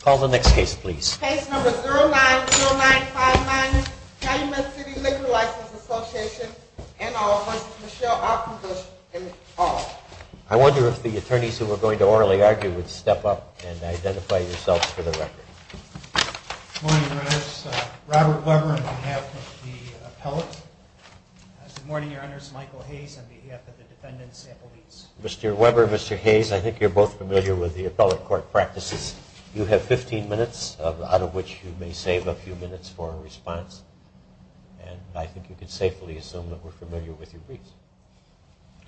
Call the next case, please. Case number 090959, Calumet City Liquor License Association and all, vs. Michelle Qualkinbush and all. I wonder if the attorneys who were going to orally argue would step up and identify yourselves for the record. Good morning, Your Honors. Robert Weber on behalf of the appellate. Good morning, Your Honors. Michael Hayes on behalf of the defendant's sample leads. Mr. Weber, Mr. Hayes, I think you're both familiar with the appellate court practices. You have 15 minutes, out of which you may save a few minutes for a response. And I think you can safely assume that we're familiar with your briefs.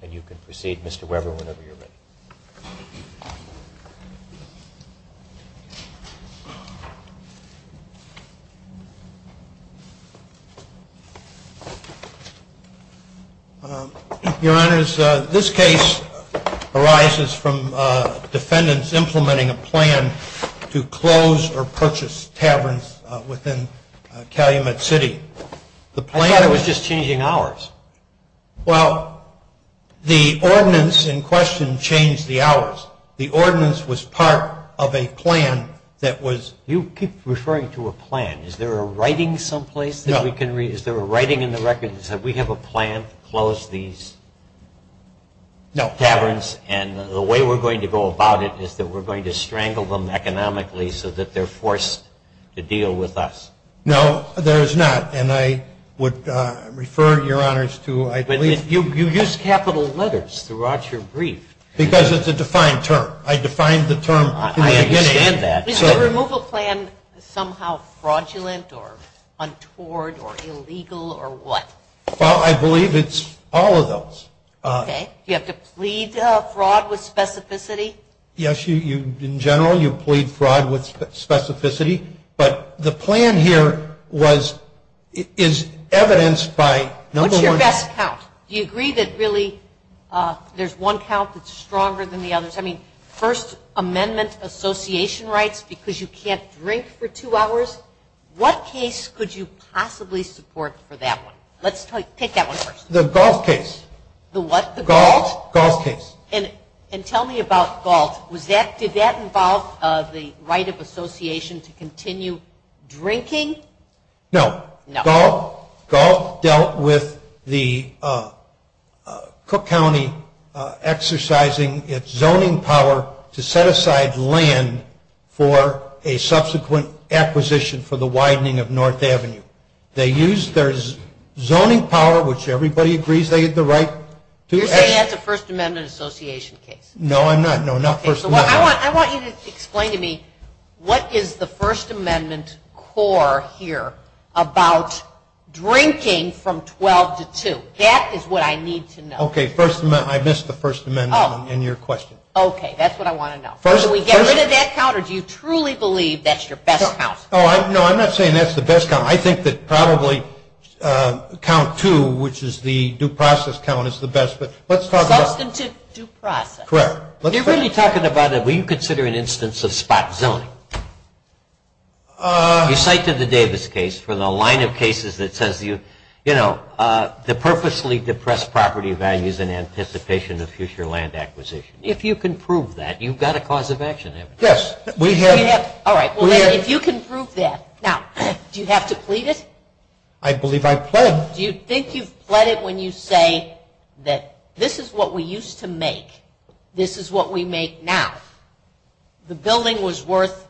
And you can proceed, Mr. Weber, whenever you're ready. Your Honors, this case arises from defendants implementing a plan to close or purchase taverns within Calumet City. I thought it was just changing hours. Well, the ordinance in question changed the hours. The ordinance was part of a plan that was You keep referring to a plan. Is there a writing someplace that we can read? No. Is there a writing in the record that says we have a plan to close these taverns? No. And the way we're going to go about it is that we're going to strangle them economically so that they're forced to deal with us. No, there is not. And I would refer, Your Honors, to I believe You use capital letters throughout your brief. Because it's a defined term. I defined the term in the beginning. I understand that. Is the removal plan somehow fraudulent or untoward or illegal or what? Well, I believe it's all of those. Okay. Do you have to plead fraud with specificity? Yes. In general, you plead fraud with specificity. But the plan here is evidenced by number one What's your best count? Do you agree that really there's one count that's stronger than the others? I mean, First Amendment association rights because you can't drink for two hours? What case could you possibly support for that one? Let's take that one first. The Galt case. The what? The Galt. Galt case. And tell me about Galt. Did that involve the right of association to continue drinking? No. No. Galt dealt with the Cook County exercising its zoning power to set aside land for a subsequent acquisition for the widening of North Avenue. They used their zoning power, which everybody agrees they had the right to. You're saying that's a First Amendment association case. No, I'm not. I want you to explain to me what is the First Amendment core here about drinking from 12 to 2? That is what I need to know. Okay. I missed the First Amendment in your question. Okay. That's what I want to know. Do we get rid of that count or do you truly believe that's your best count? No, I'm not saying that's the best count. I think that probably count two, which is the due process count, is the best. Substantive due process. Correct. When you're really talking about it, will you consider an instance of spot zoning? You cited the Davis case for the line of cases that says, you know, the purposely depressed property values in anticipation of future land acquisition. If you can prove that, you've got a cause of action. Yes. All right. If you can prove that. Now, do you have to plead it? I believe I pled. Do you think you've pled it when you say that this is what we used to make, this is what we make now, the building was worth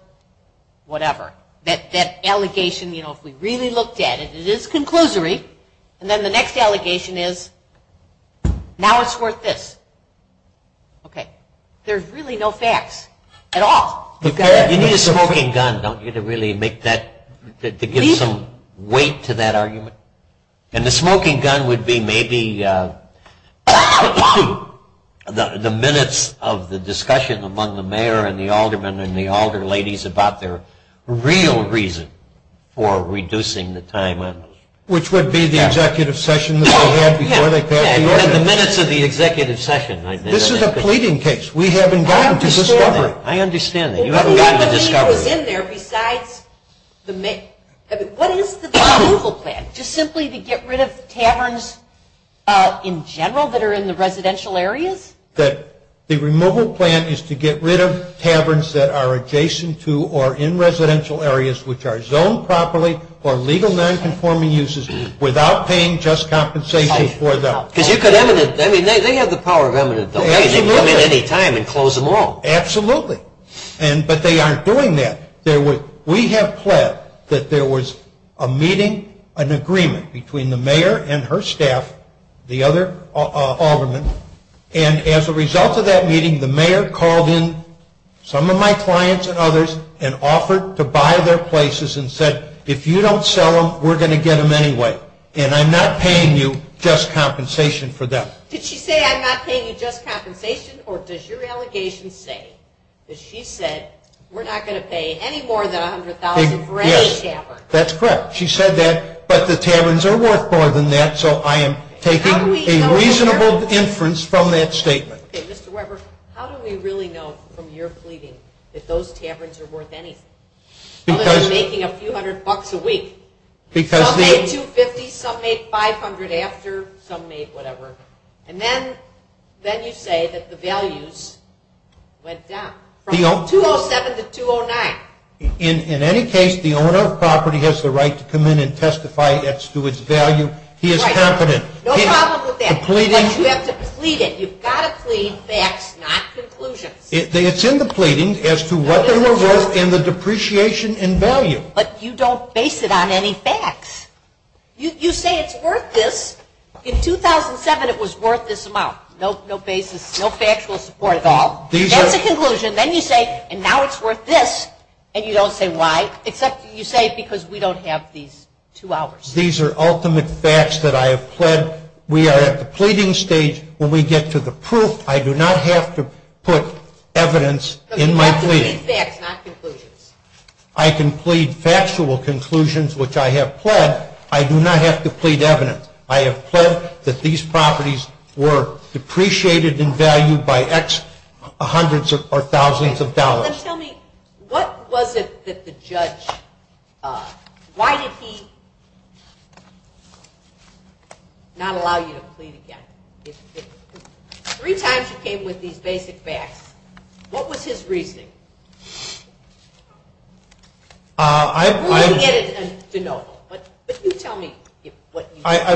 whatever. That allegation, you know, if we really looked at it, it is conclusory, and then the next allegation is now it's worth this. Okay. There's really no facts at all. You need a smoking gun, don't you, to really make that, to give some weight to that argument? And the smoking gun would be maybe the minutes of the discussion among the mayor and the alderman and the alder ladies about their real reason for reducing the time. Which would be the executive session that they had before they passed the ordinance. Yeah, the minutes of the executive session. This is a pleading case. We haven't gotten to discovery. I understand that. You haven't gotten to discovery. What was in there besides the main, I mean, what is the removal plan? Just simply to get rid of taverns in general that are in the residential areas? The removal plan is to get rid of taverns that are adjacent to or in residential areas which are zoned properly or legal nonconforming uses without paying just compensation for them. Because you could eminent, I mean, they have the power of eminent. Absolutely. They can come in any time and close them all. Absolutely. But they aren't doing that. We have pled that there was a meeting, an agreement, between the mayor and her staff, the other alderman, and as a result of that meeting, the mayor called in some of my clients and others and offered to buy their places and said, if you don't sell them, we're going to get them anyway. And I'm not paying you just compensation for them. Did she say, I'm not paying you just compensation? Or does your allegation say that she said, we're not going to pay any more than $100,000 for any tavern? Yes. That's correct. She said that, but the taverns are worth more than that, so I am taking a reasonable inference from that statement. Okay. Mr. Weber, how do we really know from your pleading that those taverns are worth anything? Unless they're making a few hundred bucks a week. Because the Some made $250, some made $500 after, some made whatever. And then you say that the values went down from 207 to 209. In any case, the owner of property has the right to come in and testify as to its value. He is competent. No problem with that. But you have to plead it. You've got to plead facts, not conclusions. It's in the pleading as to what they were worth and the depreciation in value. But you don't base it on any facts. You say it's worth this. In 2007, it was worth this amount. No basis, no factual support at all. That's a conclusion. Then you say, and now it's worth this. And you don't say why, except you say because we don't have these two hours. These are ultimate facts that I have pled. We are at the pleading stage. When we get to the proof, I do not have to put evidence in my pleading. You have to plead facts, not conclusions. I can plead factual conclusions, which I have pled. I do not have to plead evidence. I have pled that these properties were depreciated in value by X hundreds or thousands of dollars. Tell me, what was it that the judge, why did he not allow you to plead again? Three times you came with these basic facts. What was his reasoning? I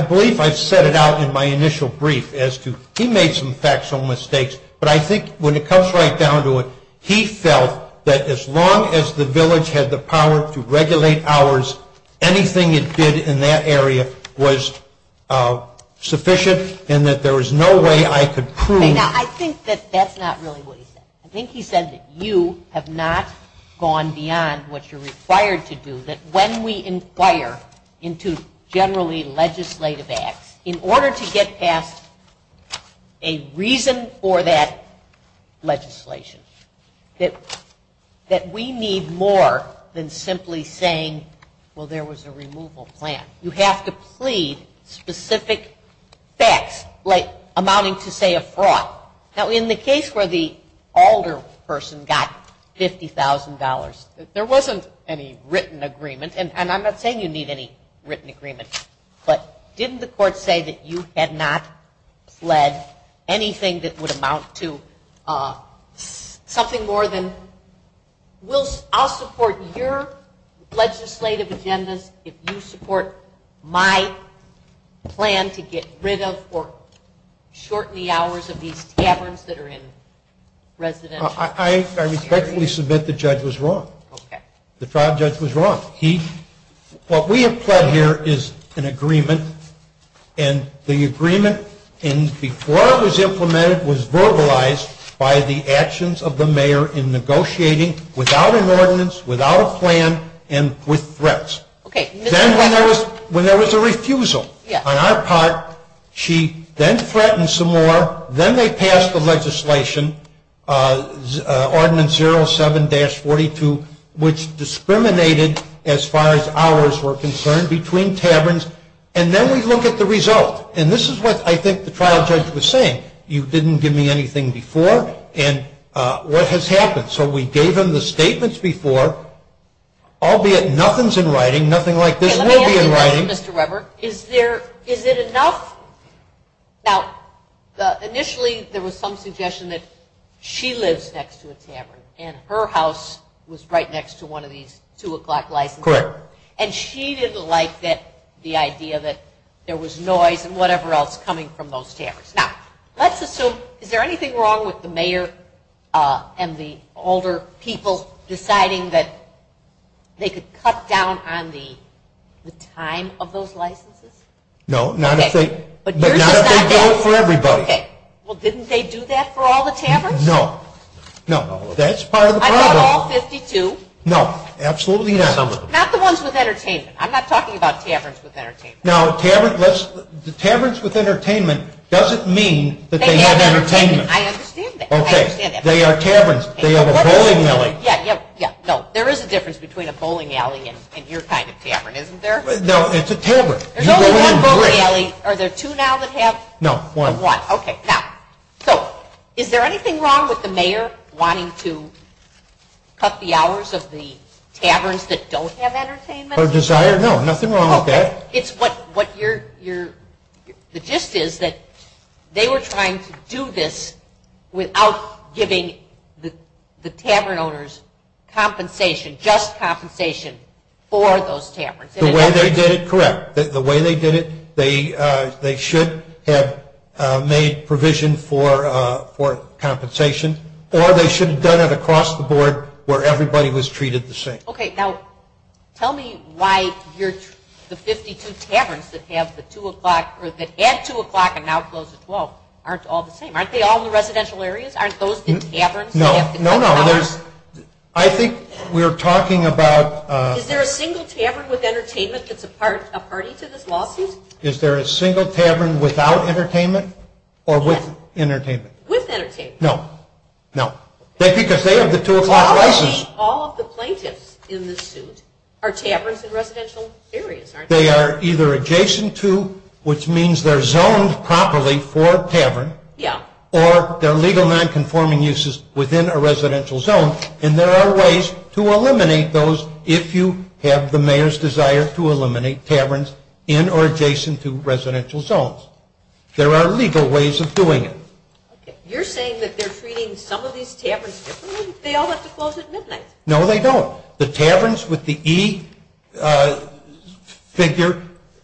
believe I set it out in my initial brief as to, he made some factual mistakes, but I think when it comes right down to it, he felt that as long as the village had the power to regulate hours, anything it did in that area was sufficient and that there was no way I could prove. Now, I think that that's not really what he said. I think he said that you have not gone beyond what you're required to do, that when we inquire into generally legislative acts, in order to get past a reason for that legislation, that we need more than simply saying, well, there was a removal plan. You have to plead specific facts, like amounting to, say, a fraud. Now, in the case where the alder person got $50,000, there wasn't any written agreement, and I'm not saying you need any written agreement, but didn't the court say that you had not pled anything that would amount to something more than, I'll support your legislative agendas if you support my plan to get rid of or shorten the hours of these taverns that are in residential areas? I respectfully submit the judge was wrong. The trial judge was wrong. What we have pled here is an agreement, and the agreement, and before it was implemented, was verbalized by the actions of the mayor in negotiating without an ordinance, without a plan, and with threats. Then when there was a refusal on our part, she then threatened some more. Then they passed the legislation, Ordinance 07-42, which discriminated, as far as hours were concerned, between taverns, and then we look at the result, and this is what I think the trial judge was saying. You didn't give me anything before, and what has happened? So we gave him the statements before, albeit nothing's in writing, nothing like this will be in writing. Let me ask you this, Mr. Weber. Is it enough? Now, initially, there was some suggestion that she lives next to a tavern, and her house was right next to one of these 2 o'clock licenses. Correct. And she didn't like the idea that there was noise and whatever else coming from those taverns. Now, let's assume, is there anything wrong with the mayor and the older people deciding that they could cut down on the time of those licenses? No, not if they do it for everybody. Okay. Well, didn't they do that for all the taverns? No. No. That's part of the problem. Not all 52? No, absolutely not. Some of them. Not the ones with entertainment. I'm not talking about taverns with entertainment. Now, taverns with entertainment doesn't mean that they have entertainment. I understand that. Okay. They are taverns. They have a bowling alley. Yeah, yeah, yeah. No, there is a difference between a bowling alley and your kind of tavern, isn't there? No, it's a tavern. There's only one bowling alley. Are there 2 now that have? No, one. One. Okay. Now, so, is there anything wrong with the mayor wanting to cut the hours of the taverns that don't have entertainment? Or desire? No, nothing wrong with that. It's what your, the gist is that they were trying to do this without giving the tavern owners compensation, just compensation for those taverns. The way they did it, correct. The way they did it, they should have made provision for compensation, or they should have done it across the board where everybody was treated the same. Okay. Now, tell me why the 52 taverns that have the 2 o'clock, or that had 2 o'clock and now close at 12 aren't all the same. Aren't they all in the residential areas? Aren't those the taverns that have to cut hours? No, no, no. I think we are talking about. Is there a single tavern with entertainment that's a party to this lawsuit? Is there a single tavern without entertainment or with entertainment? With entertainment. No. No. Because they have the 2 o'clock license. All of the plaintiffs in this suit are taverns in residential areas, aren't they? They are either adjacent to, which means they're zoned properly for a tavern. Yeah. Or they're legal nonconforming uses within a residential zone, and there are ways to eliminate those if you have the mayor's desire to eliminate taverns in or adjacent to residential zones. There are legal ways of doing it. Okay. You're saying that they're treating some of these taverns differently? They all have to close at midnight. No, they don't. The taverns with the E figure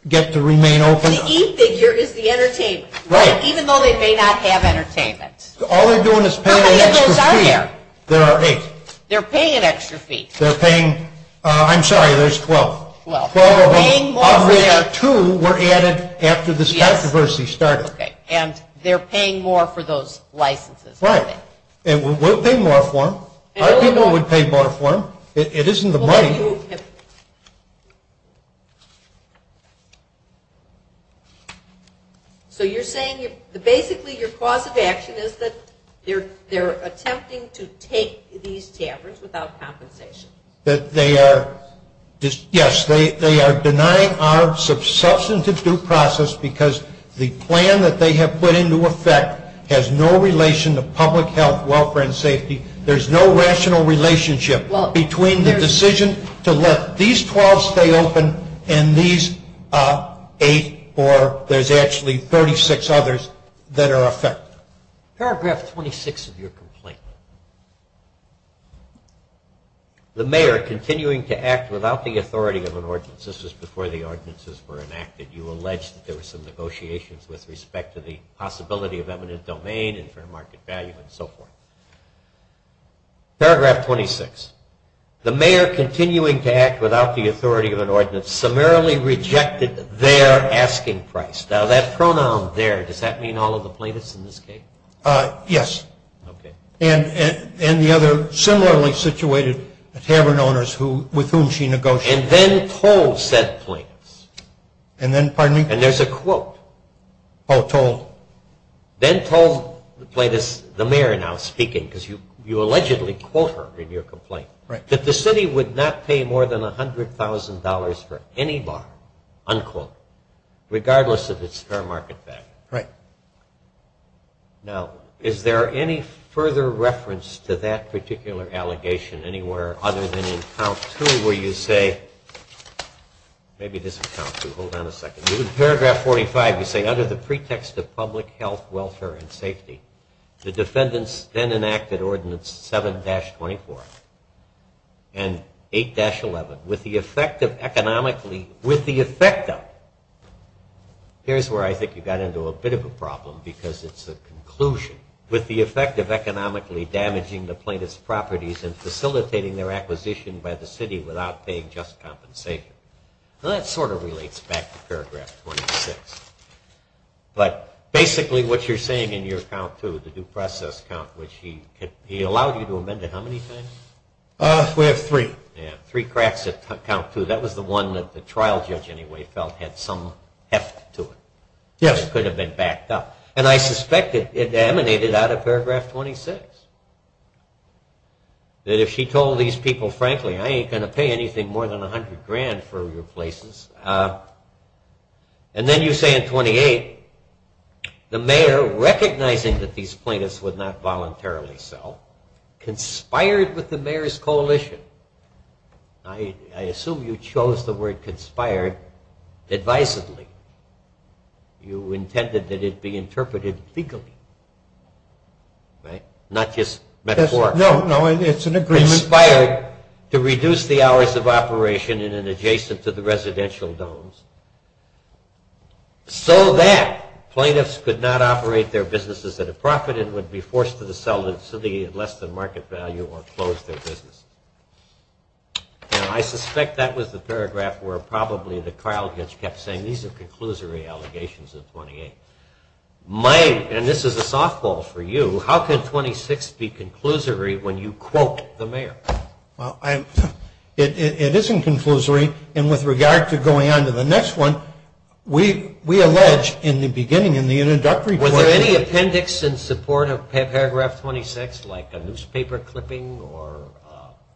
get to remain open. The E figure is the entertainment. Right. Even though they may not have entertainment. All they're doing is paying an extra fee. How many of those are there? There are eight. They're paying an extra fee. They're paying. I'm sorry, there's 12. 12 of them. Paying more for that. Two were added after this controversy started. Okay. And they're paying more for those licenses, aren't they? Right. And we'll pay more for them. Our people would pay more for them. It isn't the money. So you're saying that basically your cause of action is that they're attempting to take these taverns without compensation? Yes, they are denying our substantive due process because the plan that they have put into effect has no relation to public health, welfare, and safety. There's no rational relationship between the decision to let these 12 stay open and these eight, or there's actually 36 others that are affected. Paragraph 26 of your complaint. The mayor continuing to act without the authority of an ordinance. This was before the ordinances were enacted. You alleged that there were some negotiations with respect to the possibility of eminent domain and for market value and so forth. Paragraph 26. The mayor continuing to act without the authority of an ordinance summarily rejected their asking price. Now, that pronoun there, does that mean all of the plaintiffs in this case? Yes. Okay. And the other similarly situated tavern owners with whom she negotiated. And then told said plaintiffs. And then, pardon me? And there's a quote. Oh, told. Then told, the mayor now speaking, because you allegedly quote her in your complaint, that the city would not pay more than $100,000 for any bar, unquote, regardless of its fair market value. Right. Now, is there any further reference to that particular allegation anywhere other than in count two where you say, maybe it doesn't count two. Hold on a second. In paragraph 45 you say, under the pretext of public health, welfare, and safety, the defendants then enacted ordinance 7-24 and 8-11 with the effect of economically, with the effect of, here's where I think you got into a bit of a problem because it's a conclusion. With the effect of economically damaging the plaintiff's properties and facilitating their acquisition by the city without paying just compensation. Well, that sort of relates back to paragraph 26. But basically what you're saying in your count two, the due process count, which he allowed you to amend it how many times? We have three. Yeah, three cracks at count two. That was the one that the trial judge anyway felt had some heft to it. Yes. And I suspect it emanated out of paragraph 26. That if she told these people, frankly, I ain't going to pay anything more than 100 grand for your places. And then you say in 28, the mayor, recognizing that these plaintiffs would not voluntarily sell, conspired with the mayor's coalition. I assume you chose the word conspired divisively. You intended that it be interpreted legally, right? Not just metaphorically. No, no, it's an agreement. Conspired to reduce the hours of operation in an adjacent to the residential domes, so that plaintiffs could not operate their businesses at a profit and would be forced to sell to the city at less than market value or close their business. And I suspect that was the paragraph where probably the trial judge kept saying, these are conclusory allegations of 28. And this is a softball for you. How could 26 be conclusory when you quote the mayor? Well, it isn't conclusory. And with regard to going on to the next one, we allege in the beginning, in the introductory point. Were there any appendix in support of paragraph 26, like a newspaper clipping or?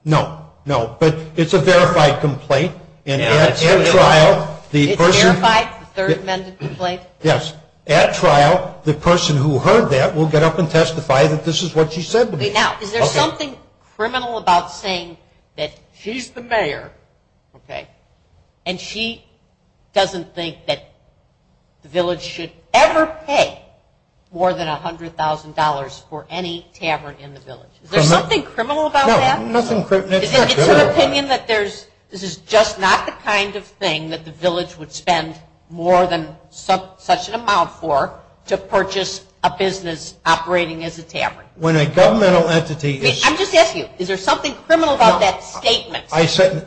No, no, but it's a verified complaint. And at trial, the person who heard that will get up and testify that this is what she said to me. Now, is there something criminal about saying that she's the mayor, okay, and she doesn't think that the village should ever pay more than $100,000 for any tavern in the village? Is there something criminal about that? No, nothing criminal. It's an opinion that this is just not the kind of thing that the village would spend more than such an amount for to purchase a business operating as a tavern. When a governmental entity is. I'm just asking you, is there something criminal about that statement?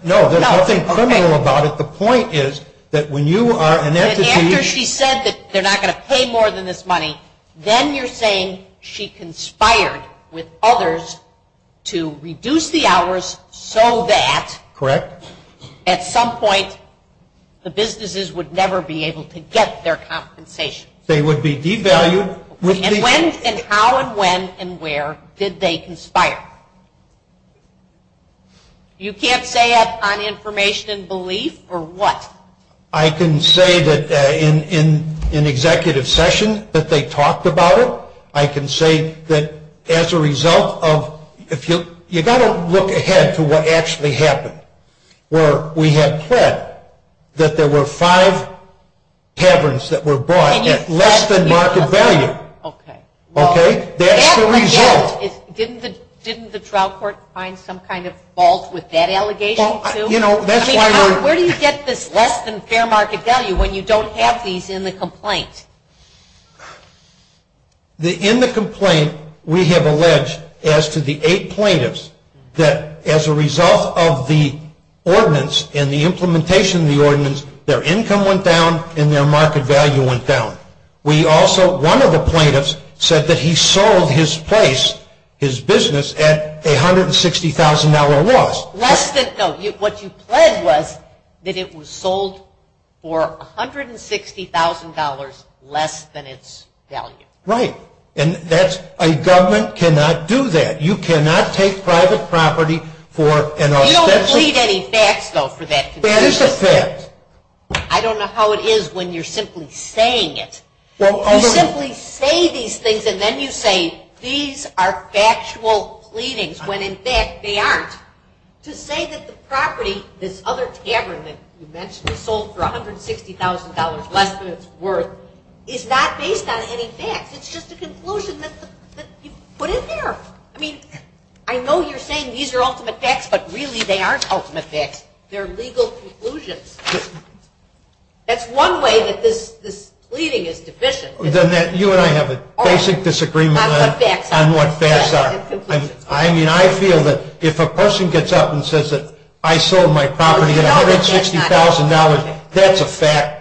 No, there's nothing criminal about it. The point is that when you are an entity. After she said that they're not going to pay more than this money, then you're saying she conspired with others to reduce the hours so that. Correct. At some point, the businesses would never be able to get their compensation. They would be devalued. And how and when and where did they conspire? You can't say that on information and belief or what? I can say that in an executive session that they talked about it. I can say that as a result of. You've got to look ahead to what actually happened. Where we had pled that there were five taverns that were bought at less than market value. Okay. That's the result. Didn't the trial court find some kind of fault with that allegation, too? That's why we're. Where do you get this less than fair market value when you don't have these in the complaint? In the complaint, we have alleged as to the eight plaintiffs that as a result of the ordinance and the implementation of the ordinance, their income went down and their market value went down. One of the plaintiffs said that he sold his place, his business, at a $160,000 loss. Less than. No, what you pled was that it was sold for $160,000 less than its value. Right. And a government cannot do that. You cannot take private property for an. You don't plead any facts, though, for that. That is a fact. I don't know how it is when you're simply saying it. You simply say these things and then you say these are factual pleadings when in fact they aren't. To say that the property, this other tavern that you mentioned was sold for $160,000 less than its worth, is not based on any facts. It's just a conclusion that you put in there. I mean, I know you're saying these are ultimate facts, but really they aren't ultimate facts. They're legal conclusions. That's one way that this pleading is deficient. Then you and I have a basic disagreement on what facts are. I mean, I feel that if a person gets up and says that I sold my property at $160,000, that's a fact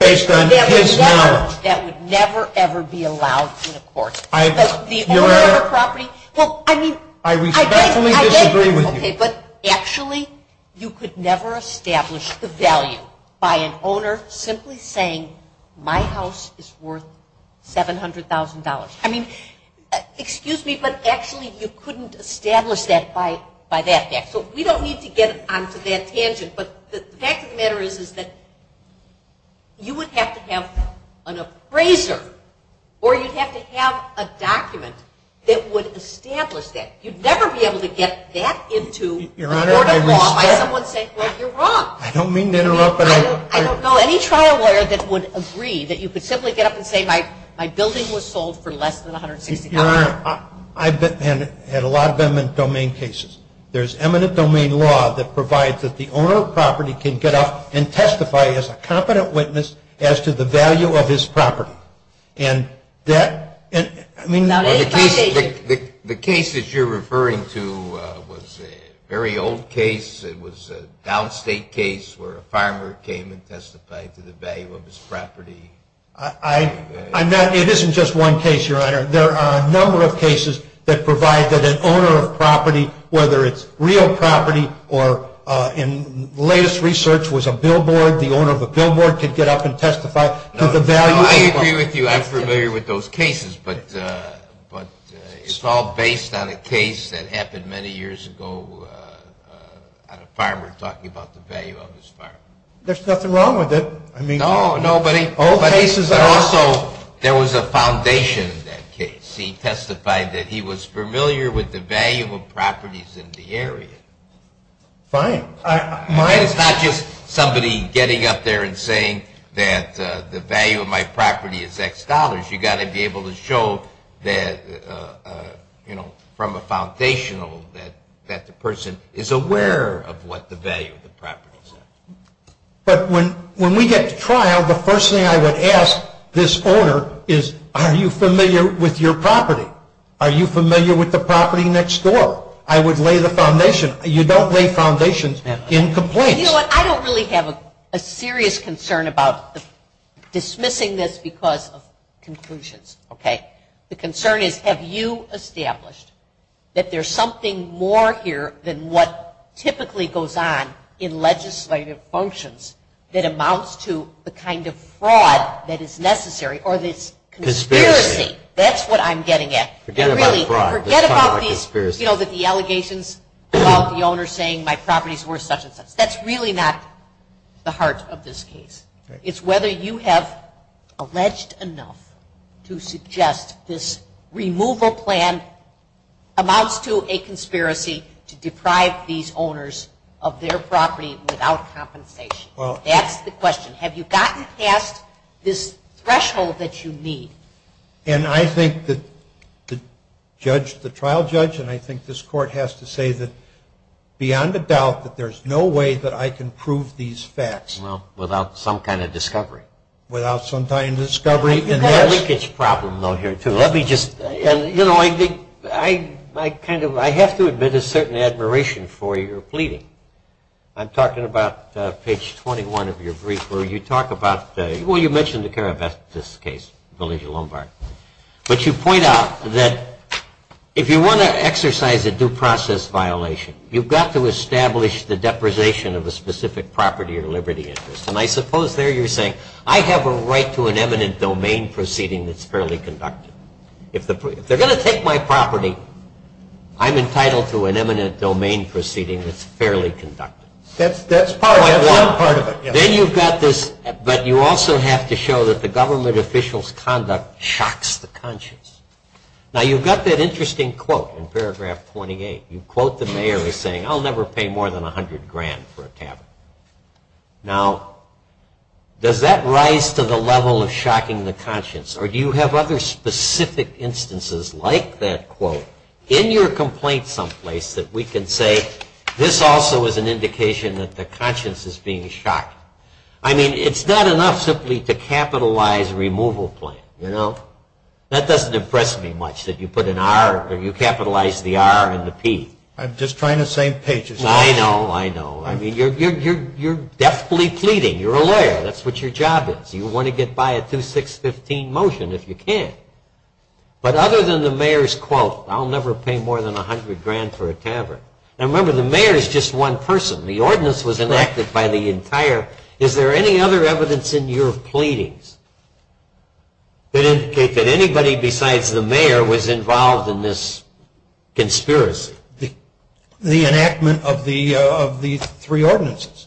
based on his knowledge. That would never, ever be allowed in a court. The owner of a property, well, I mean. I respectfully disagree with you. Okay, but actually you could never establish the value by an owner simply saying my house is worth $700,000. I mean, excuse me, but actually you couldn't establish that by that fact. So we don't need to get onto that tangent. But the fact of the matter is that you would have to have an appraiser or you'd have to have a document that would establish that. You'd never be able to get that into court of law by someone saying, well, you're wrong. I don't mean to interrupt. I don't know any trial lawyer that would agree that you could simply get up and say my building was sold for less than $160,000. Your Honor, I've had a lot of them in domain cases. There's eminent domain law that provides that the owner of a property can get up and testify as a competent witness as to the value of his property. And that, I mean. The case that you're referring to was a very old case. It was a downstate case where a farmer came and testified to the value of his property. It isn't just one case, Your Honor. There are a number of cases that provide that an owner of property, whether it's real property or in latest research was a billboard, the owner of a billboard could get up and testify to the value. No, I agree with you. I'm familiar with those cases. But it's all based on a case that happened many years ago on a farmer talking about the value of his farm. There's nothing wrong with it. No, no, but also there was a foundation in that case. He testified that he was familiar with the value of properties in the area. Fine. Mine is not just somebody getting up there and saying that the value of my property is X dollars. You've got to be able to show that, you know, from a foundational that the person is aware of what the value of the property is. But when we get to trial, the first thing I would ask this owner is are you familiar with your property? Are you familiar with the property next door? I would lay the foundation. You don't lay foundations in complaints. You know what? I don't really have a serious concern about dismissing this because of conclusions, okay? The concern is have you established that there's something more here than what typically goes on in legislative functions that amounts to the kind of fraud that is necessary or this conspiracy. That's what I'm getting at. Forget about fraud. You know, that the allegations about the owner saying my property is worth such and such. That's really not the heart of this case. It's whether you have alleged enough to suggest this removal plan amounts to a conspiracy to deprive these owners of their property without compensation. That's the question. Have you gotten past this threshold that you need? And I think that the trial judge and I think this court has to say that beyond a doubt that there's no way that I can prove these facts. Well, without some kind of discovery. Without some kind of discovery. You've got a leakage problem, though, here, too. Let me just. You know, I think I kind of have to admit a certain admiration for your pleading. I'm talking about page 21 of your brief where you talk about... But you point out that if you want to exercise a due process violation, you've got to establish the depression of a specific property or liberty interest. And I suppose there you're saying I have a right to an eminent domain proceeding that's fairly conducted. If they're going to take my property, I'm entitled to an eminent domain proceeding that's fairly conducted. That's part of it. Then you've got this... But you also have to show that the government official's conduct shocks the conscience. Now, you've got that interesting quote in paragraph 28. You quote the mayor as saying, I'll never pay more than 100 grand for a tavern. Now, does that rise to the level of shocking the conscience? Or do you have other specific instances like that quote in your complaint someplace that we can say, this also is an indication that the conscience is being shocked? I mean, it's not enough simply to capitalize a removal plan, you know? That doesn't impress me much that you put an R or you capitalize the R and the P. I'm just trying to save pages. I know, I know. I mean, you're deftly pleading. You're a lawyer. That's what your job is. You want to get by a 2615 motion if you can. Now, remember, the mayor is just one person. The ordinance was enacted by the entire... Correct. Is there any other evidence in your pleadings that indicate that anybody besides the mayor was involved in this conspiracy? The enactment of the three ordinances.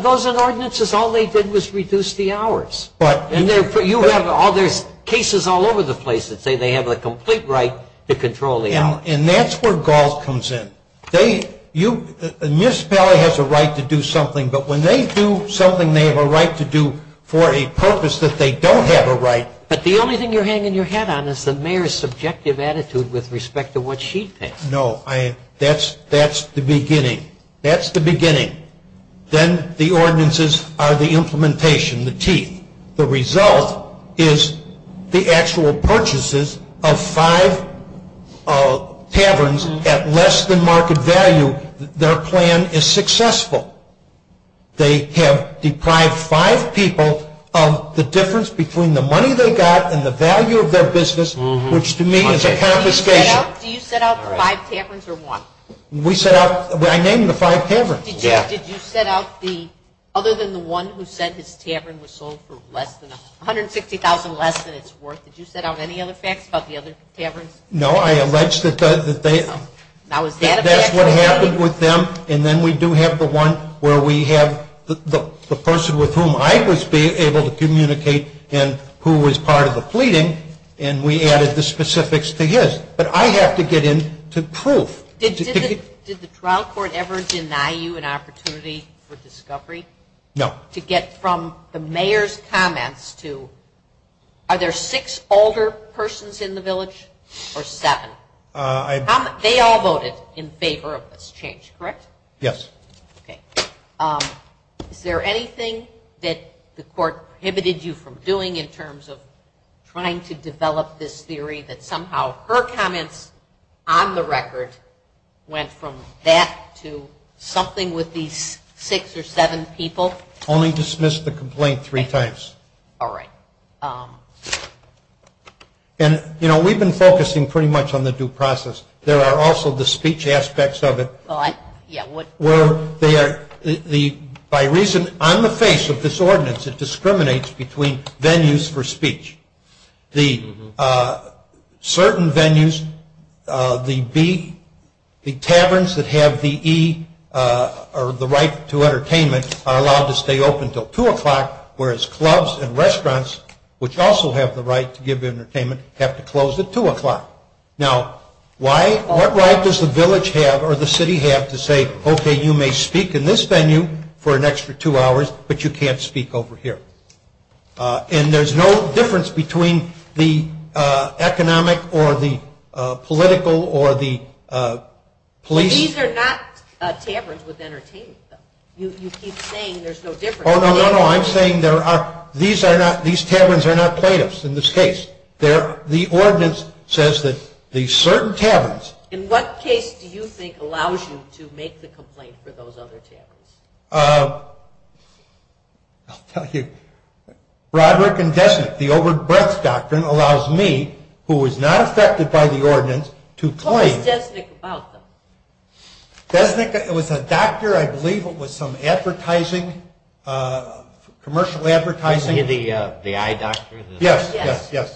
Those are ordinances. All they did was reduce the hours. But... And you have all these cases all over the place that say they have a complete right to control the hours. And that's where Gault comes in. A municipality has a right to do something. But when they do something they have a right to do for a purpose that they don't have a right... But the only thing you're hanging your hat on is the mayor's subjective attitude with respect to what she thinks. No, that's the beginning. That's the beginning. Then the ordinances are the implementation, the teeth. The result is the actual purchases of five taverns at less than market value. Their plan is successful. They have deprived five people of the difference between the money they got and the value of their business, which to me is a confiscation. Do you set out the five taverns or one? We set out... I named the five taverns. Did you set out the other than the one who said his tavern was sold for less than... $160,000 less than it's worth. Did you set out any other facts about the other taverns? No, I alleged that they... Now is that a fact... That's what happened with them. And then we do have the one where we have the person with whom I was able to communicate and who was part of the pleading. And we added the specifics to his. But I have to get into proof. Did the trial court ever deny you an opportunity for discovery? No. To get from the mayor's comments to are there six older persons in the village or seven? They all voted in favor of this change, correct? Yes. Okay. Is there anything that the court prohibited you from doing in terms of trying to develop this theory that somehow her comments on the record went from that to something with these six or seven people? Only dismissed the complaint three times. All right. And, you know, we've been focusing pretty much on the due process. There are also the speech aspects of it where they are... By reason on the face of this ordinance, it discriminates between venues for speech. The certain venues, the B, the taverns that have the E or the right to entertainment are allowed to stay open until 2 o'clock, whereas clubs and restaurants, which also have the right to give entertainment, have to close at 2 o'clock. Now, what right does the village have or the city have to say, okay, you may speak in this venue for an extra two hours, but you can't speak over here? And there's no difference between the economic or the political or the police. These are not taverns with entertainment, though. You keep saying there's no difference. Oh, no, no, no. I'm saying these taverns are not plaintiffs in this case. The ordinance says that the certain taverns... In what case do you think allows you to make the complaint for those other taverns? I'll tell you. Broderick and Desnick, the overbreadth doctrine allows me, who was not affected by the ordinance, to claim... What was Desnick about, though? Desnick was a doctor, I believe it was some advertising, commercial advertising... The eye doctor? Yes, yes,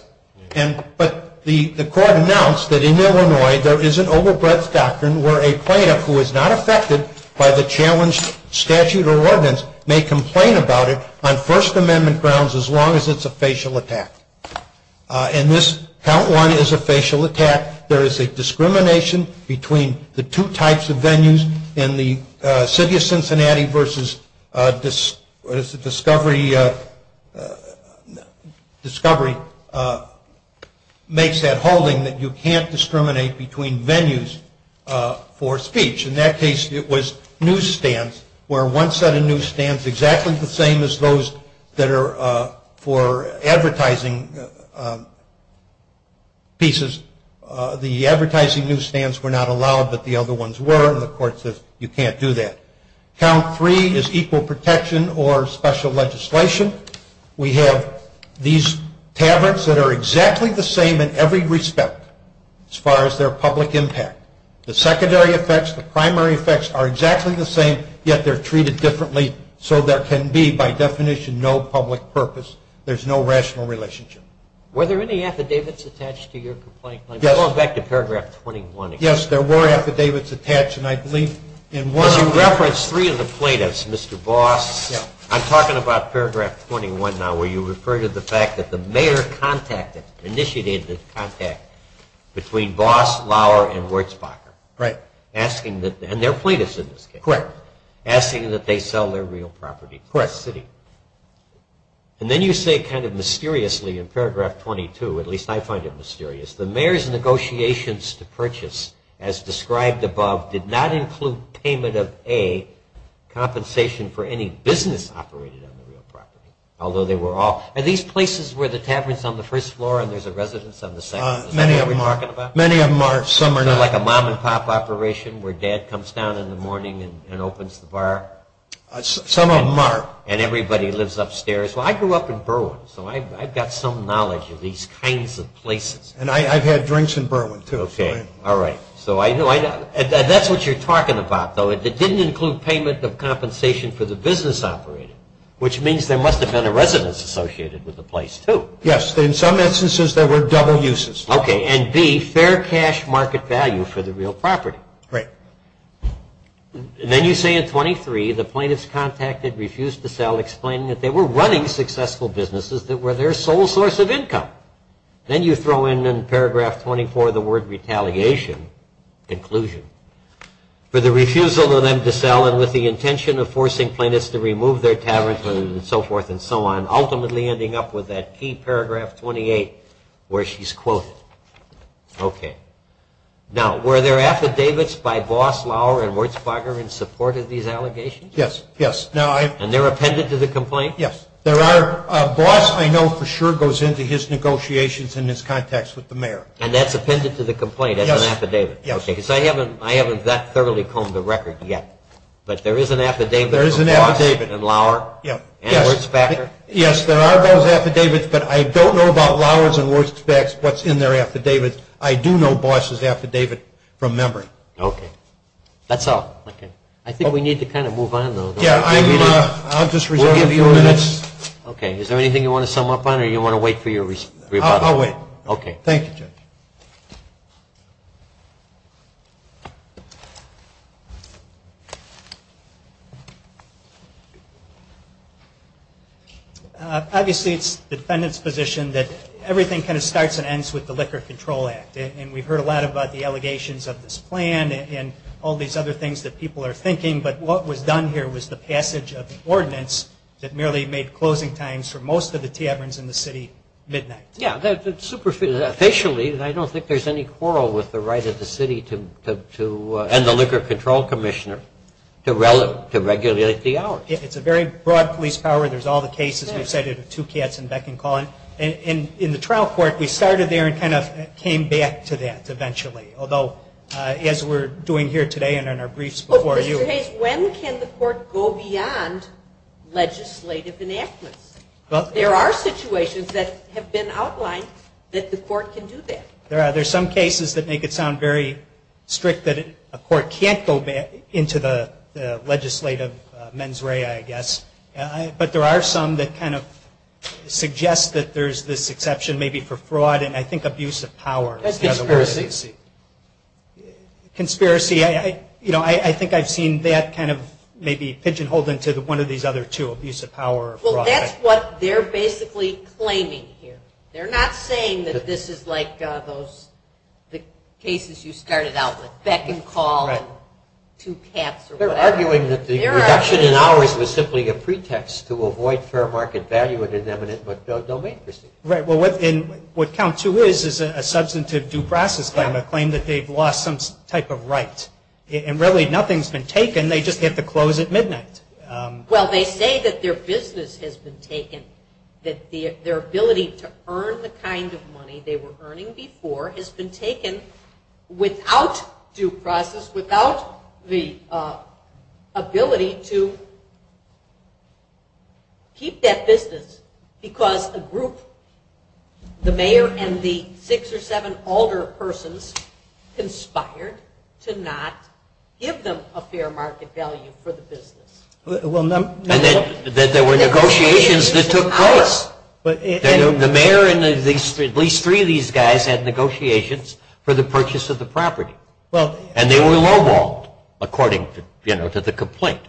yes. But the court announced that in Illinois there is an overbreadth doctrine where a plaintiff who is not affected by the challenged statute or ordinance may complain about it on First Amendment grounds as long as it's a facial attack. And this, Count 1, is a facial attack. There is a discrimination between the two types of venues in the city of Cincinnati versus discovery makes that holding that you can't discriminate between venues for speech. In that case, it was newsstands where one set of newsstands is exactly the same as those that are for advertising pieces. The advertising newsstands were not allowed, but the other ones were, and the court says you can't do that. Count 3 is equal protection or special legislation. We have these taverns that are exactly the same in every respect as far as their public impact. The secondary effects, the primary effects are exactly the same, yet they're treated differently so there can be, by definition, no public purpose. There's no rational relationship. Were there any affidavits attached to your complaint? Yes. Going back to Paragraph 21 again. Yes, there were affidavits attached, and I believe in one... You referenced three of the plaintiffs, Mr. Voss. Yes. I'm talking about Paragraph 21 now where you refer to the fact that the mayor contacted, initiated the contact between Voss, Lauer, and Wurzbacher. Right. Asking that, and they're plaintiffs in this case. Correct. Asking that they sell their real property to the city. Correct. And then you say kind of mysteriously in Paragraph 22, at least I find it mysterious, the mayor's negotiations to purchase, as described above, did not include payment of A, compensation for any business operated on the real property, although they were all... Are these places where the tavern's on the first floor and there's a residence on the second floor? Many of them are... Many of them are... Some are not. So like a mom and pop operation where dad comes down in the morning and opens the bar? Some of them are. And everybody lives upstairs? Well, I grew up in Berwyn, so I've got some knowledge of these kinds of places. And I've had drinks in Berwyn, too. Okay. All right. So I know... That's what you're talking about, though. It didn't include payment of compensation for the business operated, which means there must have been a residence associated with the place, too. Yes. In some instances, there were double uses. Okay. And B, fair cash market value for the real property. Right. Then you say in 23, the plaintiffs contacted, refused to sell, explaining that they were running successful businesses that were their sole source of income. Then you throw in in paragraph 24 the word retaliation, conclusion, for the refusal of them to sell and with the intention of forcing plaintiffs to remove their taverns and so forth and so on, ultimately ending up with that key paragraph 28 where she's quoted. Okay. Now, were there affidavits by Boss, Lauer, and Wurzbacher in support of these allegations? Yes. Yes. And they're appended to the complaint? Yes. Boss, I know for sure, goes into his negotiations and his contacts with the mayor. And that's appended to the complaint as an affidavit? Yes. Okay. Because I haven't that thoroughly combed the record yet. But there is an affidavit of Boss and Lauer and Wurzbacher? Yes, there are those affidavits. But I don't know about Lauer's and Wurzbacher's, what's in their affidavits. I do know Boss' affidavit from memory. Okay. That's all. Okay. I think we need to kind of move on, though. Yeah, I'll just reserve a few minutes. Okay. Is there anything you want to sum up on or do you want to wait for your rebuttal? I'll wait. Okay. Thank you, Judge. Thank you. Obviously, it's the defendant's position that everything kind of starts and ends with the Liquor Control Act. And we've heard a lot about the allegations of this plan and all these other things that people are thinking. But what was done here was the passage of the ordinance that merely made closing times for most of the taverns in the city midnight. Yeah, superficially, I don't think there's any quarrel with the right of the city to and the Liquor Control Commissioner to regulate the hours. It's a very broad police power. There's all the cases. We've cited Two Cats and Beck and Collin. In the trial court, we started there and kind of came back to that eventually, although as we're doing here today and in our briefs before you. Mr. Hayes, when can the court go beyond legislative enactments? There are situations that have been outlined that the court can do that. There are some cases that make it sound very strict that a court can't go into the legislative mens rea, I guess. But there are some that kind of suggest that there's this exception maybe for fraud and I think abuse of power. Conspiracy? Conspiracy. I think I've seen that kind of maybe pigeonholed into one of these other two, abuse of power or fraud. Well, that's what they're basically claiming here. They're not saying that this is like the cases you started out with, Beck and Collin, Two Cats or whatever. They're arguing that the reduction in hours was simply a pretext to avoid fair market value and an eminent domain. Right. Well, what count two is is a substantive due process claim, a claim that they've lost some type of right. And really nothing's been taken. They just hit the close at midnight. Well, they say that their business has been taken, that their ability to earn the kind of money they were earning before has been taken without due process, without the ability to keep that business because a group, the mayor and the six or seven older persons, conspired to not give them a fair market value for the business. And that there were negotiations that took place. The mayor and at least three of these guys had negotiations for the purchase of the property. And they were lowballed, according to the complaint.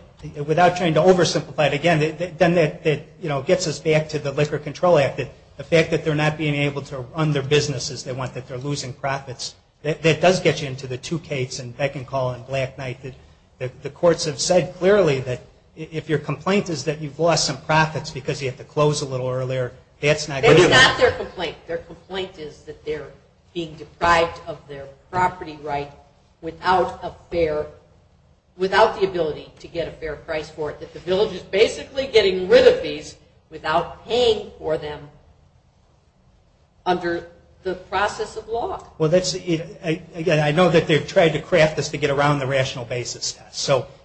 Without trying to oversimplify it again, it gets us back to the Liquor Control Act. The fact that they're not being able to run their business as they want, that they're losing profits, that does get you into the Two Cats and Beck and Collin and Black Knight. I think that the courts have said clearly that if your complaint is that you've lost some profits because you had to close a little earlier, that's not good. That's not their complaint. Their complaint is that they're being deprived of their property right without the ability to get a fair price for it, that the village is basically getting rid of these without paying for them under the process of law. Again, I know that they've tried to craft this to get around the rational basis.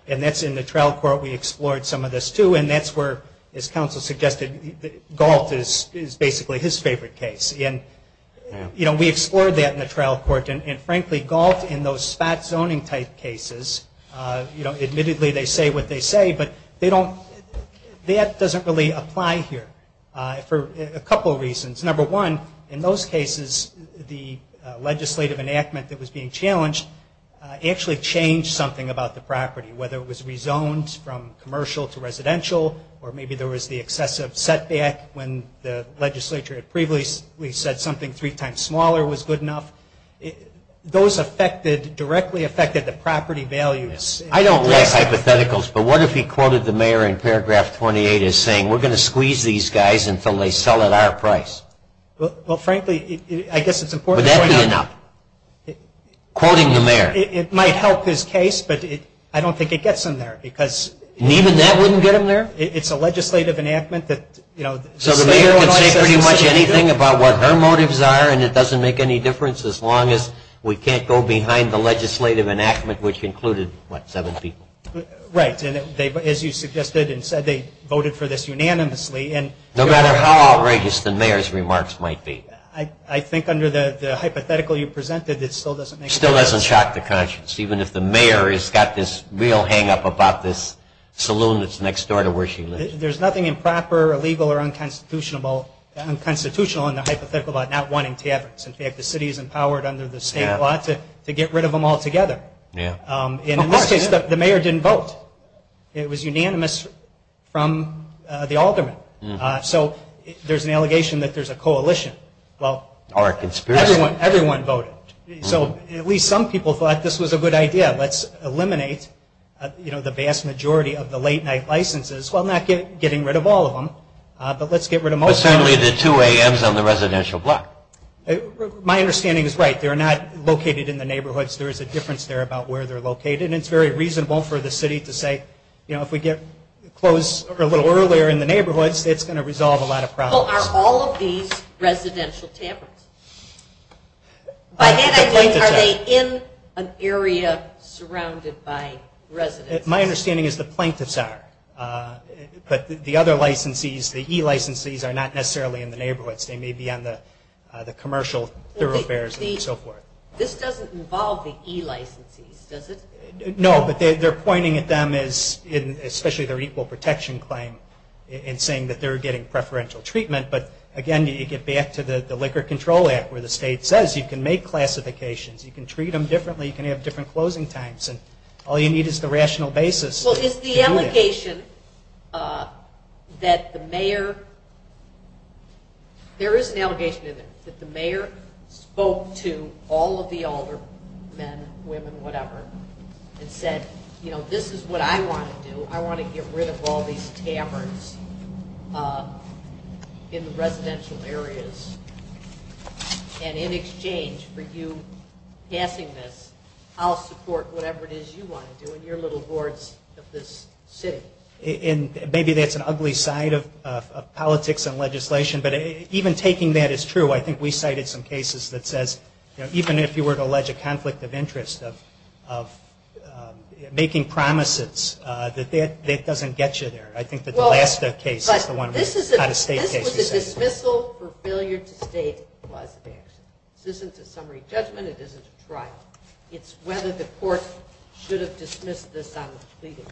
And that's in the trial court. We explored some of this, too. And that's where, as counsel suggested, Galt is basically his favorite case. We explored that in the trial court. And frankly, Galt in those spot zoning type cases, admittedly they say what they say, but that doesn't really apply here for a couple of reasons. Number one, in those cases, the legislative enactment that was being challenged actually changed something about the property, whether it was rezoned from commercial to residential or maybe there was the excessive setback when the legislature had previously said something three times smaller was good enough. Those directly affected the property values. I don't like hypotheticals, but what if he quoted the mayor in paragraph 28 as saying, we're going to squeeze these guys until they sell at our price? Well, frankly, I guess it's important to point out. Would that be enough? Quoting the mayor? It might help his case, but I don't think it gets him there. And even that wouldn't get him there? It's a legislative enactment. So the mayor can say pretty much anything about what her motives are and it doesn't make any difference as long as we can't go behind the legislative enactment which included, what, seven people? Right. As you suggested and said, they voted for this unanimously. No matter how outrageous the mayor's remarks might be. I think under the hypothetical you presented, it still doesn't make a difference. It still doesn't shock the conscience, even if the mayor has got this real hang-up about this saloon that's next door to where she lives. There's nothing improper, illegal, or unconstitutional in the hypothetical about not wanting taverns. In fact, the city is empowered under the state law to get rid of them altogether. In this case, the mayor didn't vote. It was unanimous from the aldermen. So there's an allegation that there's a coalition. Or a conspiracy. Everyone voted. So at least some people thought this was a good idea. Let's eliminate the vast majority of the late-night licenses. Well, not getting rid of all of them, but let's get rid of most of them. But certainly the two AMs on the residential block. My understanding is right. They're not located in the neighborhoods. There is a difference there about where they're located. And it's very reasonable for the city to say, you know, if we get closed a little earlier in the neighborhoods, it's going to resolve a lot of problems. Well, are all of these residential taverns? By that I mean are they in an area surrounded by residents? My understanding is the plaintiffs are. But the other licensees, the e-licensees, are not necessarily in the neighborhoods. They may be on the commercial thoroughfares and so forth. This doesn't involve the e-licensees, does it? No. But they're pointing at them as, especially their equal protection claim, and saying that they're getting preferential treatment. But, again, you get back to the Liquor Control Act where the state says you can make classifications, you can treat them differently, you can have different closing times, and all you need is the rational basis. Well, is the allegation that the mayor, there is an allegation in there, that the mayor spoke to all of the older men, women, whatever, and said, you know, this is what I want to do. I want to get rid of all these taverns in the residential areas. And in exchange for you passing this, I'll support whatever it is you want to do in your little wards of this city. Maybe that's an ugly side of politics and legislation, but even taking that as true, I think we cited some cases that says, even if you were to allege a conflict of interest of making promises, that that doesn't get you there. I think that the last case is the one out-of-state case. But this was a dismissal for failure to state the cause of action. This isn't a summary judgment. It isn't a trial. It's whether the court should have dismissed this on legal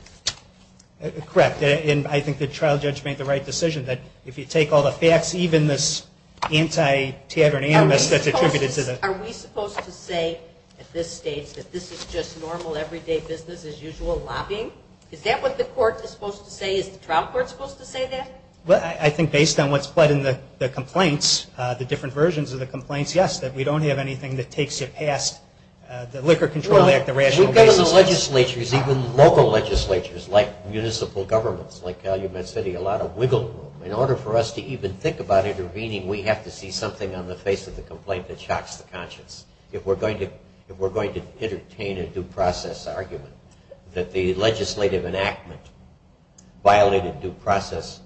basis. Correct. And I think the trial judge made the right decision, that if you take all the facts, even this anti-tavern animus that's attributed to the- Are we supposed to say at this stage that this is just normal, everyday business-as-usual lobbying? Is that what the court is supposed to say? Is the trial court supposed to say that? I think based on what's pled in the complaints, the different versions of the complaints, yes, that we don't have anything that takes you past the Liquor Control Act, the rational basis. We've got in the legislatures, even local legislatures, like municipal governments, like Calumet City, a lot of wiggle room. In order for us to even think about intervening, we have to see something on the face of the complaint that shocks the conscience. If we're going to entertain a due process argument that the legislative enactment violated due process,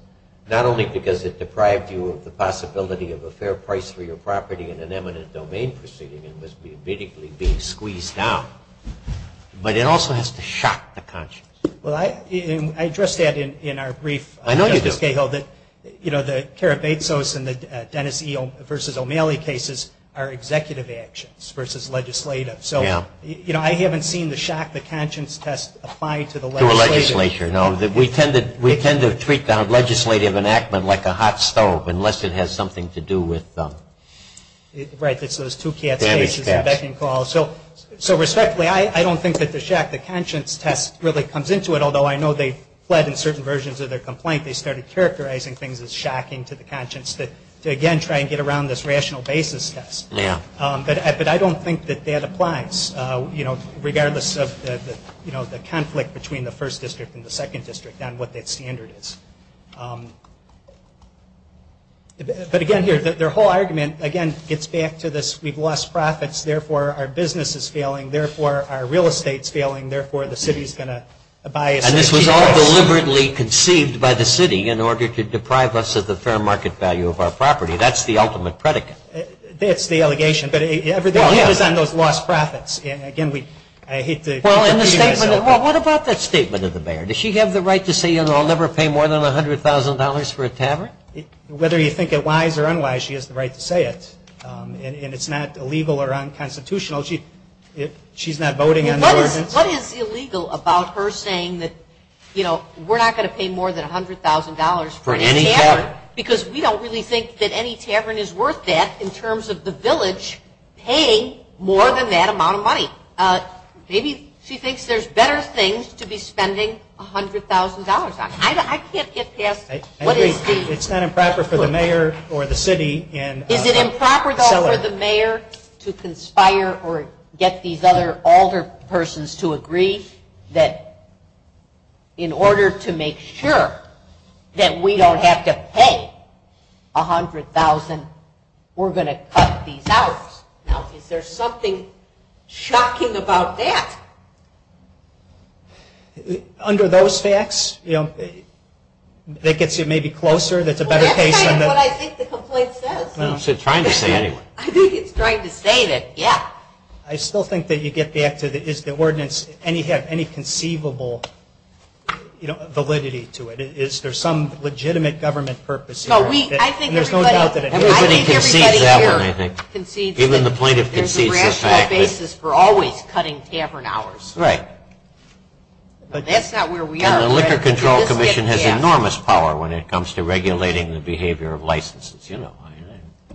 not only because it deprived you of the possibility of a fair price for your property in an eminent domain proceeding, but it also has to shock the conscience. Well, I addressed that in our brief, Justice Cahill, that the Carabazos and the Dennis E. v. O'Malley cases are executive actions versus legislative. So I haven't seen the shock the conscience test applied to the legislative. To a legislature, no. We tend to treat the legislative enactment like a hot stove, unless it has something to do with. Right, it's those two cats cases and beckoning calls. So respectfully, I don't think that the shock the conscience test really comes into it, although I know they fled in certain versions of their complaint. They started characterizing things as shocking to the conscience to, again, try and get around this rational basis test. But I don't think that that applies, regardless of the conflict between the first district and the second district on what that standard is. But, again, their whole argument, again, gets back to this, we've lost profits, therefore our business is failing, therefore our real estate is failing, therefore the city is going to buy us. And this was all deliberately conceived by the city in order to deprive us of the fair market value of our property. That's the ultimate predicate. That's the allegation. But everything is on those lost profits. Again, I hate to. Well, what about that statement of the mayor? Does she have the right to say, you know, I'll never pay more than $100,000 for a tavern? Whether you think it wise or unwise, she has the right to say it. And it's not illegal or unconstitutional. She's not voting on the ordinance. What is illegal about her saying that, you know, we're not going to pay more than $100,000 for a tavern? Because we don't really think that any tavern is worth that in terms of the village paying more than that amount of money. Maybe she thinks there's better things to be spending $100,000 on. I can't get past what is the. It's not improper for the mayor or the city. Is it improper, though, for the mayor to conspire or get these other older persons to agree that in order to make sure that we don't have to pay $100,000, we're going to cut these out? Now, is there something shocking about that? Under those facts, you know, that gets you maybe closer. Well, that's kind of what I think the complaint says. It's trying to say anyway. I think it's trying to say that, yeah. I still think that you get back to is the ordinance, and you have any conceivable validity to it. Is there some legitimate government purpose here? I think everybody here concedes that there's a rational basis for always cutting tavern hours. Right. That's not where we are. And the Liquor Control Commission has enormous power when it comes to regulating the behavior of licenses.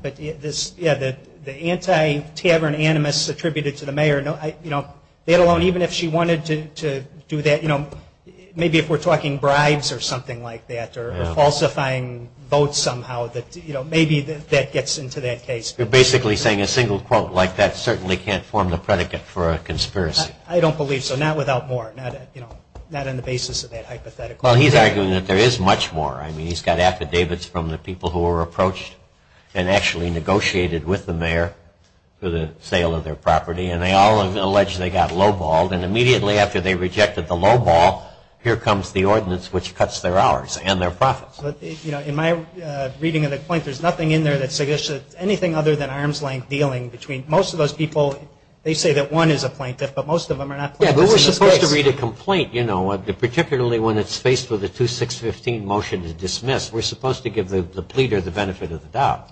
But, yeah, the anti-tavern animus attributed to the mayor, let alone even if she wanted to do that, maybe if we're talking bribes or something like that or falsifying votes somehow, maybe that gets into that case. You're basically saying a single quote like that certainly can't form the predicate for a conspiracy. I don't believe so, not without more, not on the basis of that hypothetical. Well, he's arguing that there is much more. I mean, he's got affidavits from the people who were approached and actually negotiated with the mayor for the sale of their property, and they all allege they got lowballed. And immediately after they rejected the lowball, here comes the ordinance which cuts their hours and their profits. But, you know, in my reading of the complaint, there's nothing in there that suggests anything other than arm's length dealing between most of those people. They say that one is a plaintiff, but most of them are not plaintiffs. Yeah, but we're supposed to read a complaint, you know, particularly when it's faced with a 2-6-15 motion to dismiss. We're supposed to give the pleader the benefit of the doubt.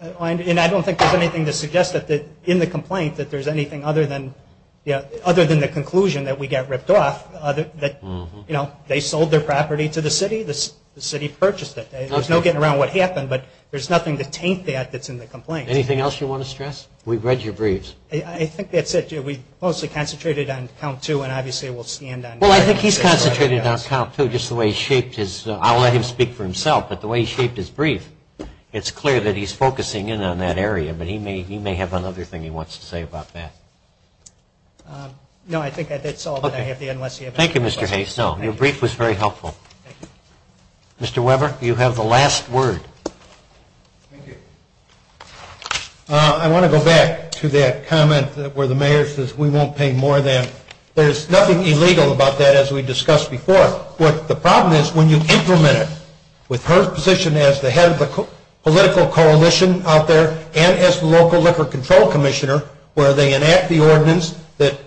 And I don't think there's anything to suggest that in the complaint that there's anything other than the conclusion that we got ripped off, that, you know, they sold their property to the city, the city purchased it. There's no getting around what happened, but there's nothing to taint that that's in the complaint. Anything else you want to stress? We've read your briefs. I think that's it. We've mostly concentrated on count two, and obviously we'll stand on that. Well, I think he's concentrated on count two, just the way he's shaped his – I'll let him speak for himself, but the way he's shaped his brief, it's clear that he's focusing in on that area. But he may have another thing he wants to say about that. No, I think that's all that I have to add. Thank you, Mr. Hayes. No, your brief was very helpful. Mr. Weber, you have the last word. Thank you. I want to go back to that comment where the mayor says we won't pay more than – there's nothing illegal about that, as we discussed before. But the problem is when you implement it, with her position as the head of the political coalition out there and as the local Liquor Control Commissioner, where they enact the ordinance that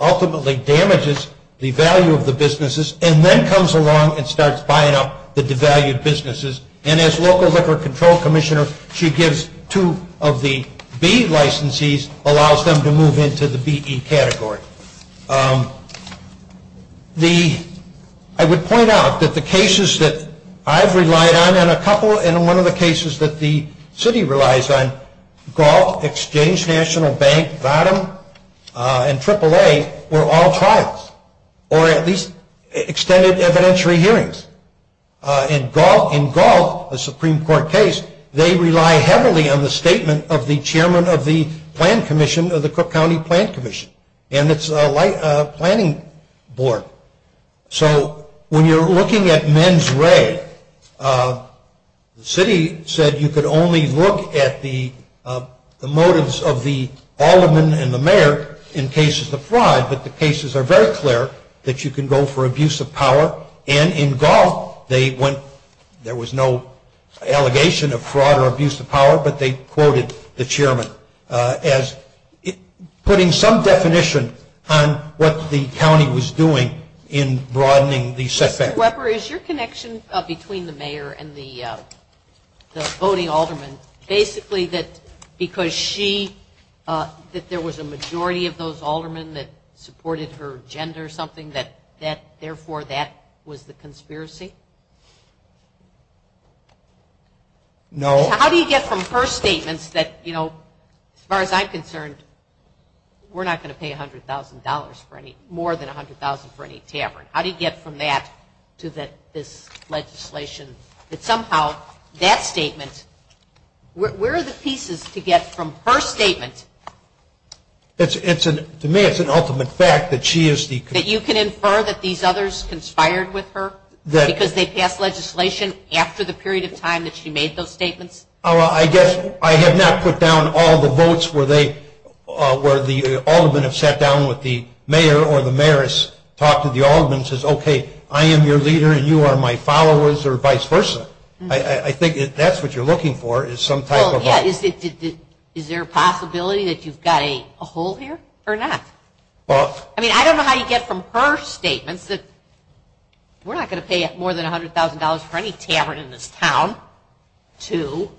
ultimately damages the value of the businesses and then comes along and starts buying up the devalued businesses. And as local Liquor Control Commissioner, she gives two of the B licensees, allows them to move into the BE category. I would point out that the cases that I've relied on, and a couple in one of the cases that the city relies on, Galt, Exchange National Bank, Vodum, and AAA were all trials, or at least extended evidentiary hearings. In Galt, a Supreme Court case, they rely heavily on the statement of the Chairman of the Plan Commission of the Cook County Plan Commission. And it's a planning board. So when you're looking at mens re, the city said you could only look at the motives of the alderman and the mayor in cases of fraud, but the cases are very clear that you can go for abuse of power. And in Galt, there was no allegation of fraud or abuse of power, but they quoted the chairman as putting some definition on what the county was doing in broadening the setback. Mr. Weber, is your connection between the mayor and the voting alderman basically that because she, that there was a majority of those aldermen that supported her gender or something that therefore that was the conspiracy? No. How do you get from her statements that, you know, as far as I'm concerned, we're not going to pay $100,000 for any, more than $100,000 for any tavern? How do you get from that to this legislation that somehow that statement, where are the pieces to get from her statement? To me, it's an ultimate fact that she is the. That you can infer that these others conspired with her because they passed legislation after the period of time that she made those statements? I guess I have not put down all the votes where the alderman has sat down with the mayor or the mayor has talked to the alderman and says, okay, I am your leader and you are my followers or vice versa. I think that's what you're looking for is some type of. Yeah, is there a possibility that you've got a hole here or not? I mean, I don't know how you get from her statements that we're not going to pay more than $100,000 for any tavern in this town to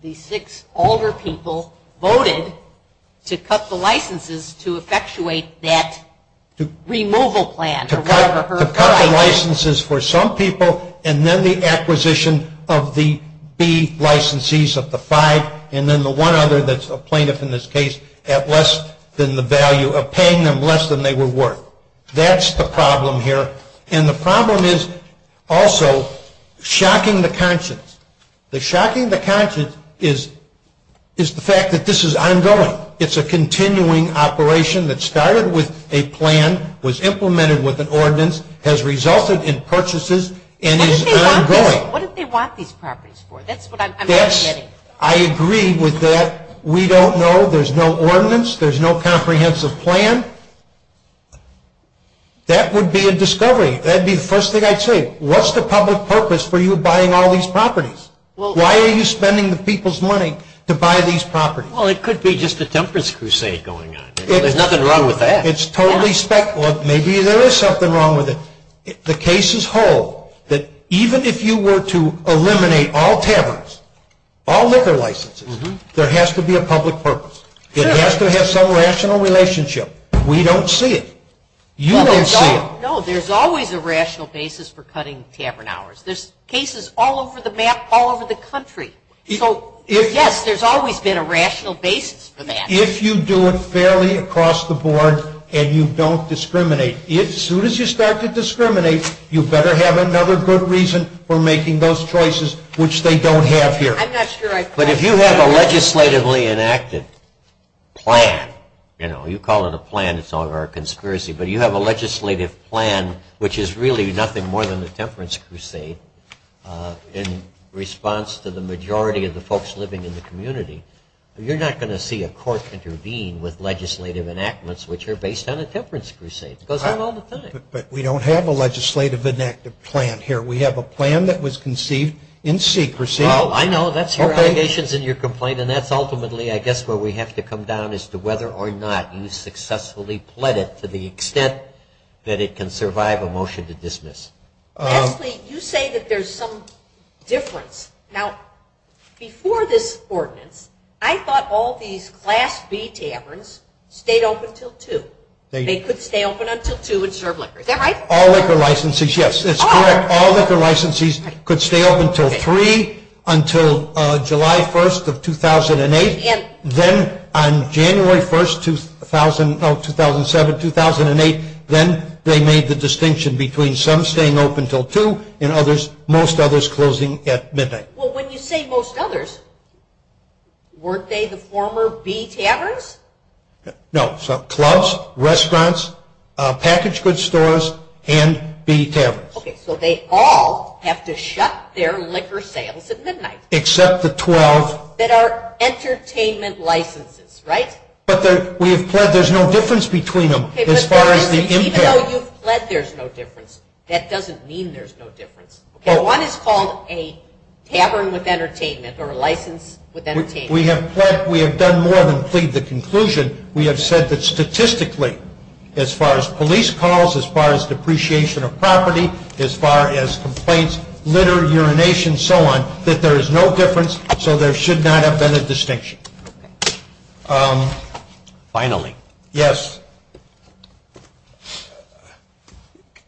these six older people voted to cut the licenses to effectuate that removal plan. To cut the licenses for some people and then the acquisition of the B licensees of the five and then the one other that's a plaintiff in this case at less than the value of paying them less than they were worth. That's the problem here. And the problem is also shocking the conscience. The shocking the conscience is the fact that this is ongoing. It's a continuing operation that started with a plan, was implemented with an ordinance, has resulted in purchases and is ongoing. What do they want these properties for? That's what I'm getting. I agree with that. We don't know. There's no ordinance. There's no comprehensive plan. That would be a discovery. That would be the first thing I'd say. What's the public purpose for you buying all these properties? Why are you spending the people's money to buy these properties? Well, it could be just a temperance crusade going on. There's nothing wrong with that. It's totally spec. Well, maybe there is something wrong with it. The case is whole that even if you were to eliminate all taverns, all liquor licenses, there has to be a public purpose. It has to have some rational relationship. We don't see it. You don't see it. No, there's always a rational basis for cutting tavern hours. There's cases all over the map, all over the country. So, yes, there's always been a rational basis for that. If you do it fairly across the board and you don't discriminate, as soon as you start to discriminate, you better have another good reason for making those choices which they don't have here. But if you have a legislatively enacted plan, you know, you call it a plan. It's all over a conspiracy. But you have a legislative plan which is really nothing more than a temperance crusade in response to the majority of the folks living in the community. You're not going to see a court intervene with legislative enactments which are based on a temperance crusade. It goes on all the time. But we don't have a legislative enacted plan here. We have a plan that was conceived in secrecy. Well, I know. That's your allegations and your complaint, and that's ultimately, I guess, where we have to come down as to whether or not you successfully pled it to the extent that it can survive a motion to dismiss. Leslie, you say that there's some difference. Now, before this ordinance, I thought all these Class B taverns stayed open until 2. They could stay open until 2 and serve liquor. Is that right? All liquor licensees, yes. It's correct. All liquor licensees could stay open until 3 until July 1st of 2008. Then on January 1st, 2007, 2008, then they made the distinction between some staying open until 2 and most others closing at midnight. Well, when you say most others, weren't they the former B taverns? No. Clubs, restaurants, packaged goods stores, and B taverns. Okay. So they all have to shut their liquor sales at midnight. Except the 12. That are entertainment licenses, right? But we have pled there's no difference between them as far as the impact. Even though you've pled there's no difference, that doesn't mean there's no difference. Okay. One is called a tavern with entertainment or a license with entertainment. We have done more than plead the conclusion. We have said that statistically, as far as police calls, as far as depreciation of property, as far as complaints, litter, urination, and so on, that there is no difference, so there should not have been a distinction. Okay. Finally. Yes.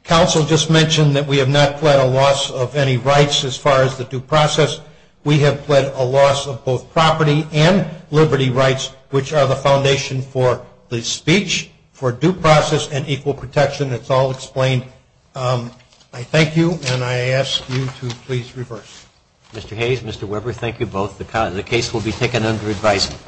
Counsel just mentioned that we have not pled a loss of any rights as far as the due process. We have pled a loss of both property and liberty rights, which are the foundation for the speech for due process and equal protection. It's all explained. I thank you, and I ask you to please reverse. Mr. Hayes, Mr. Weber, thank you both. The case will be taken under advisement.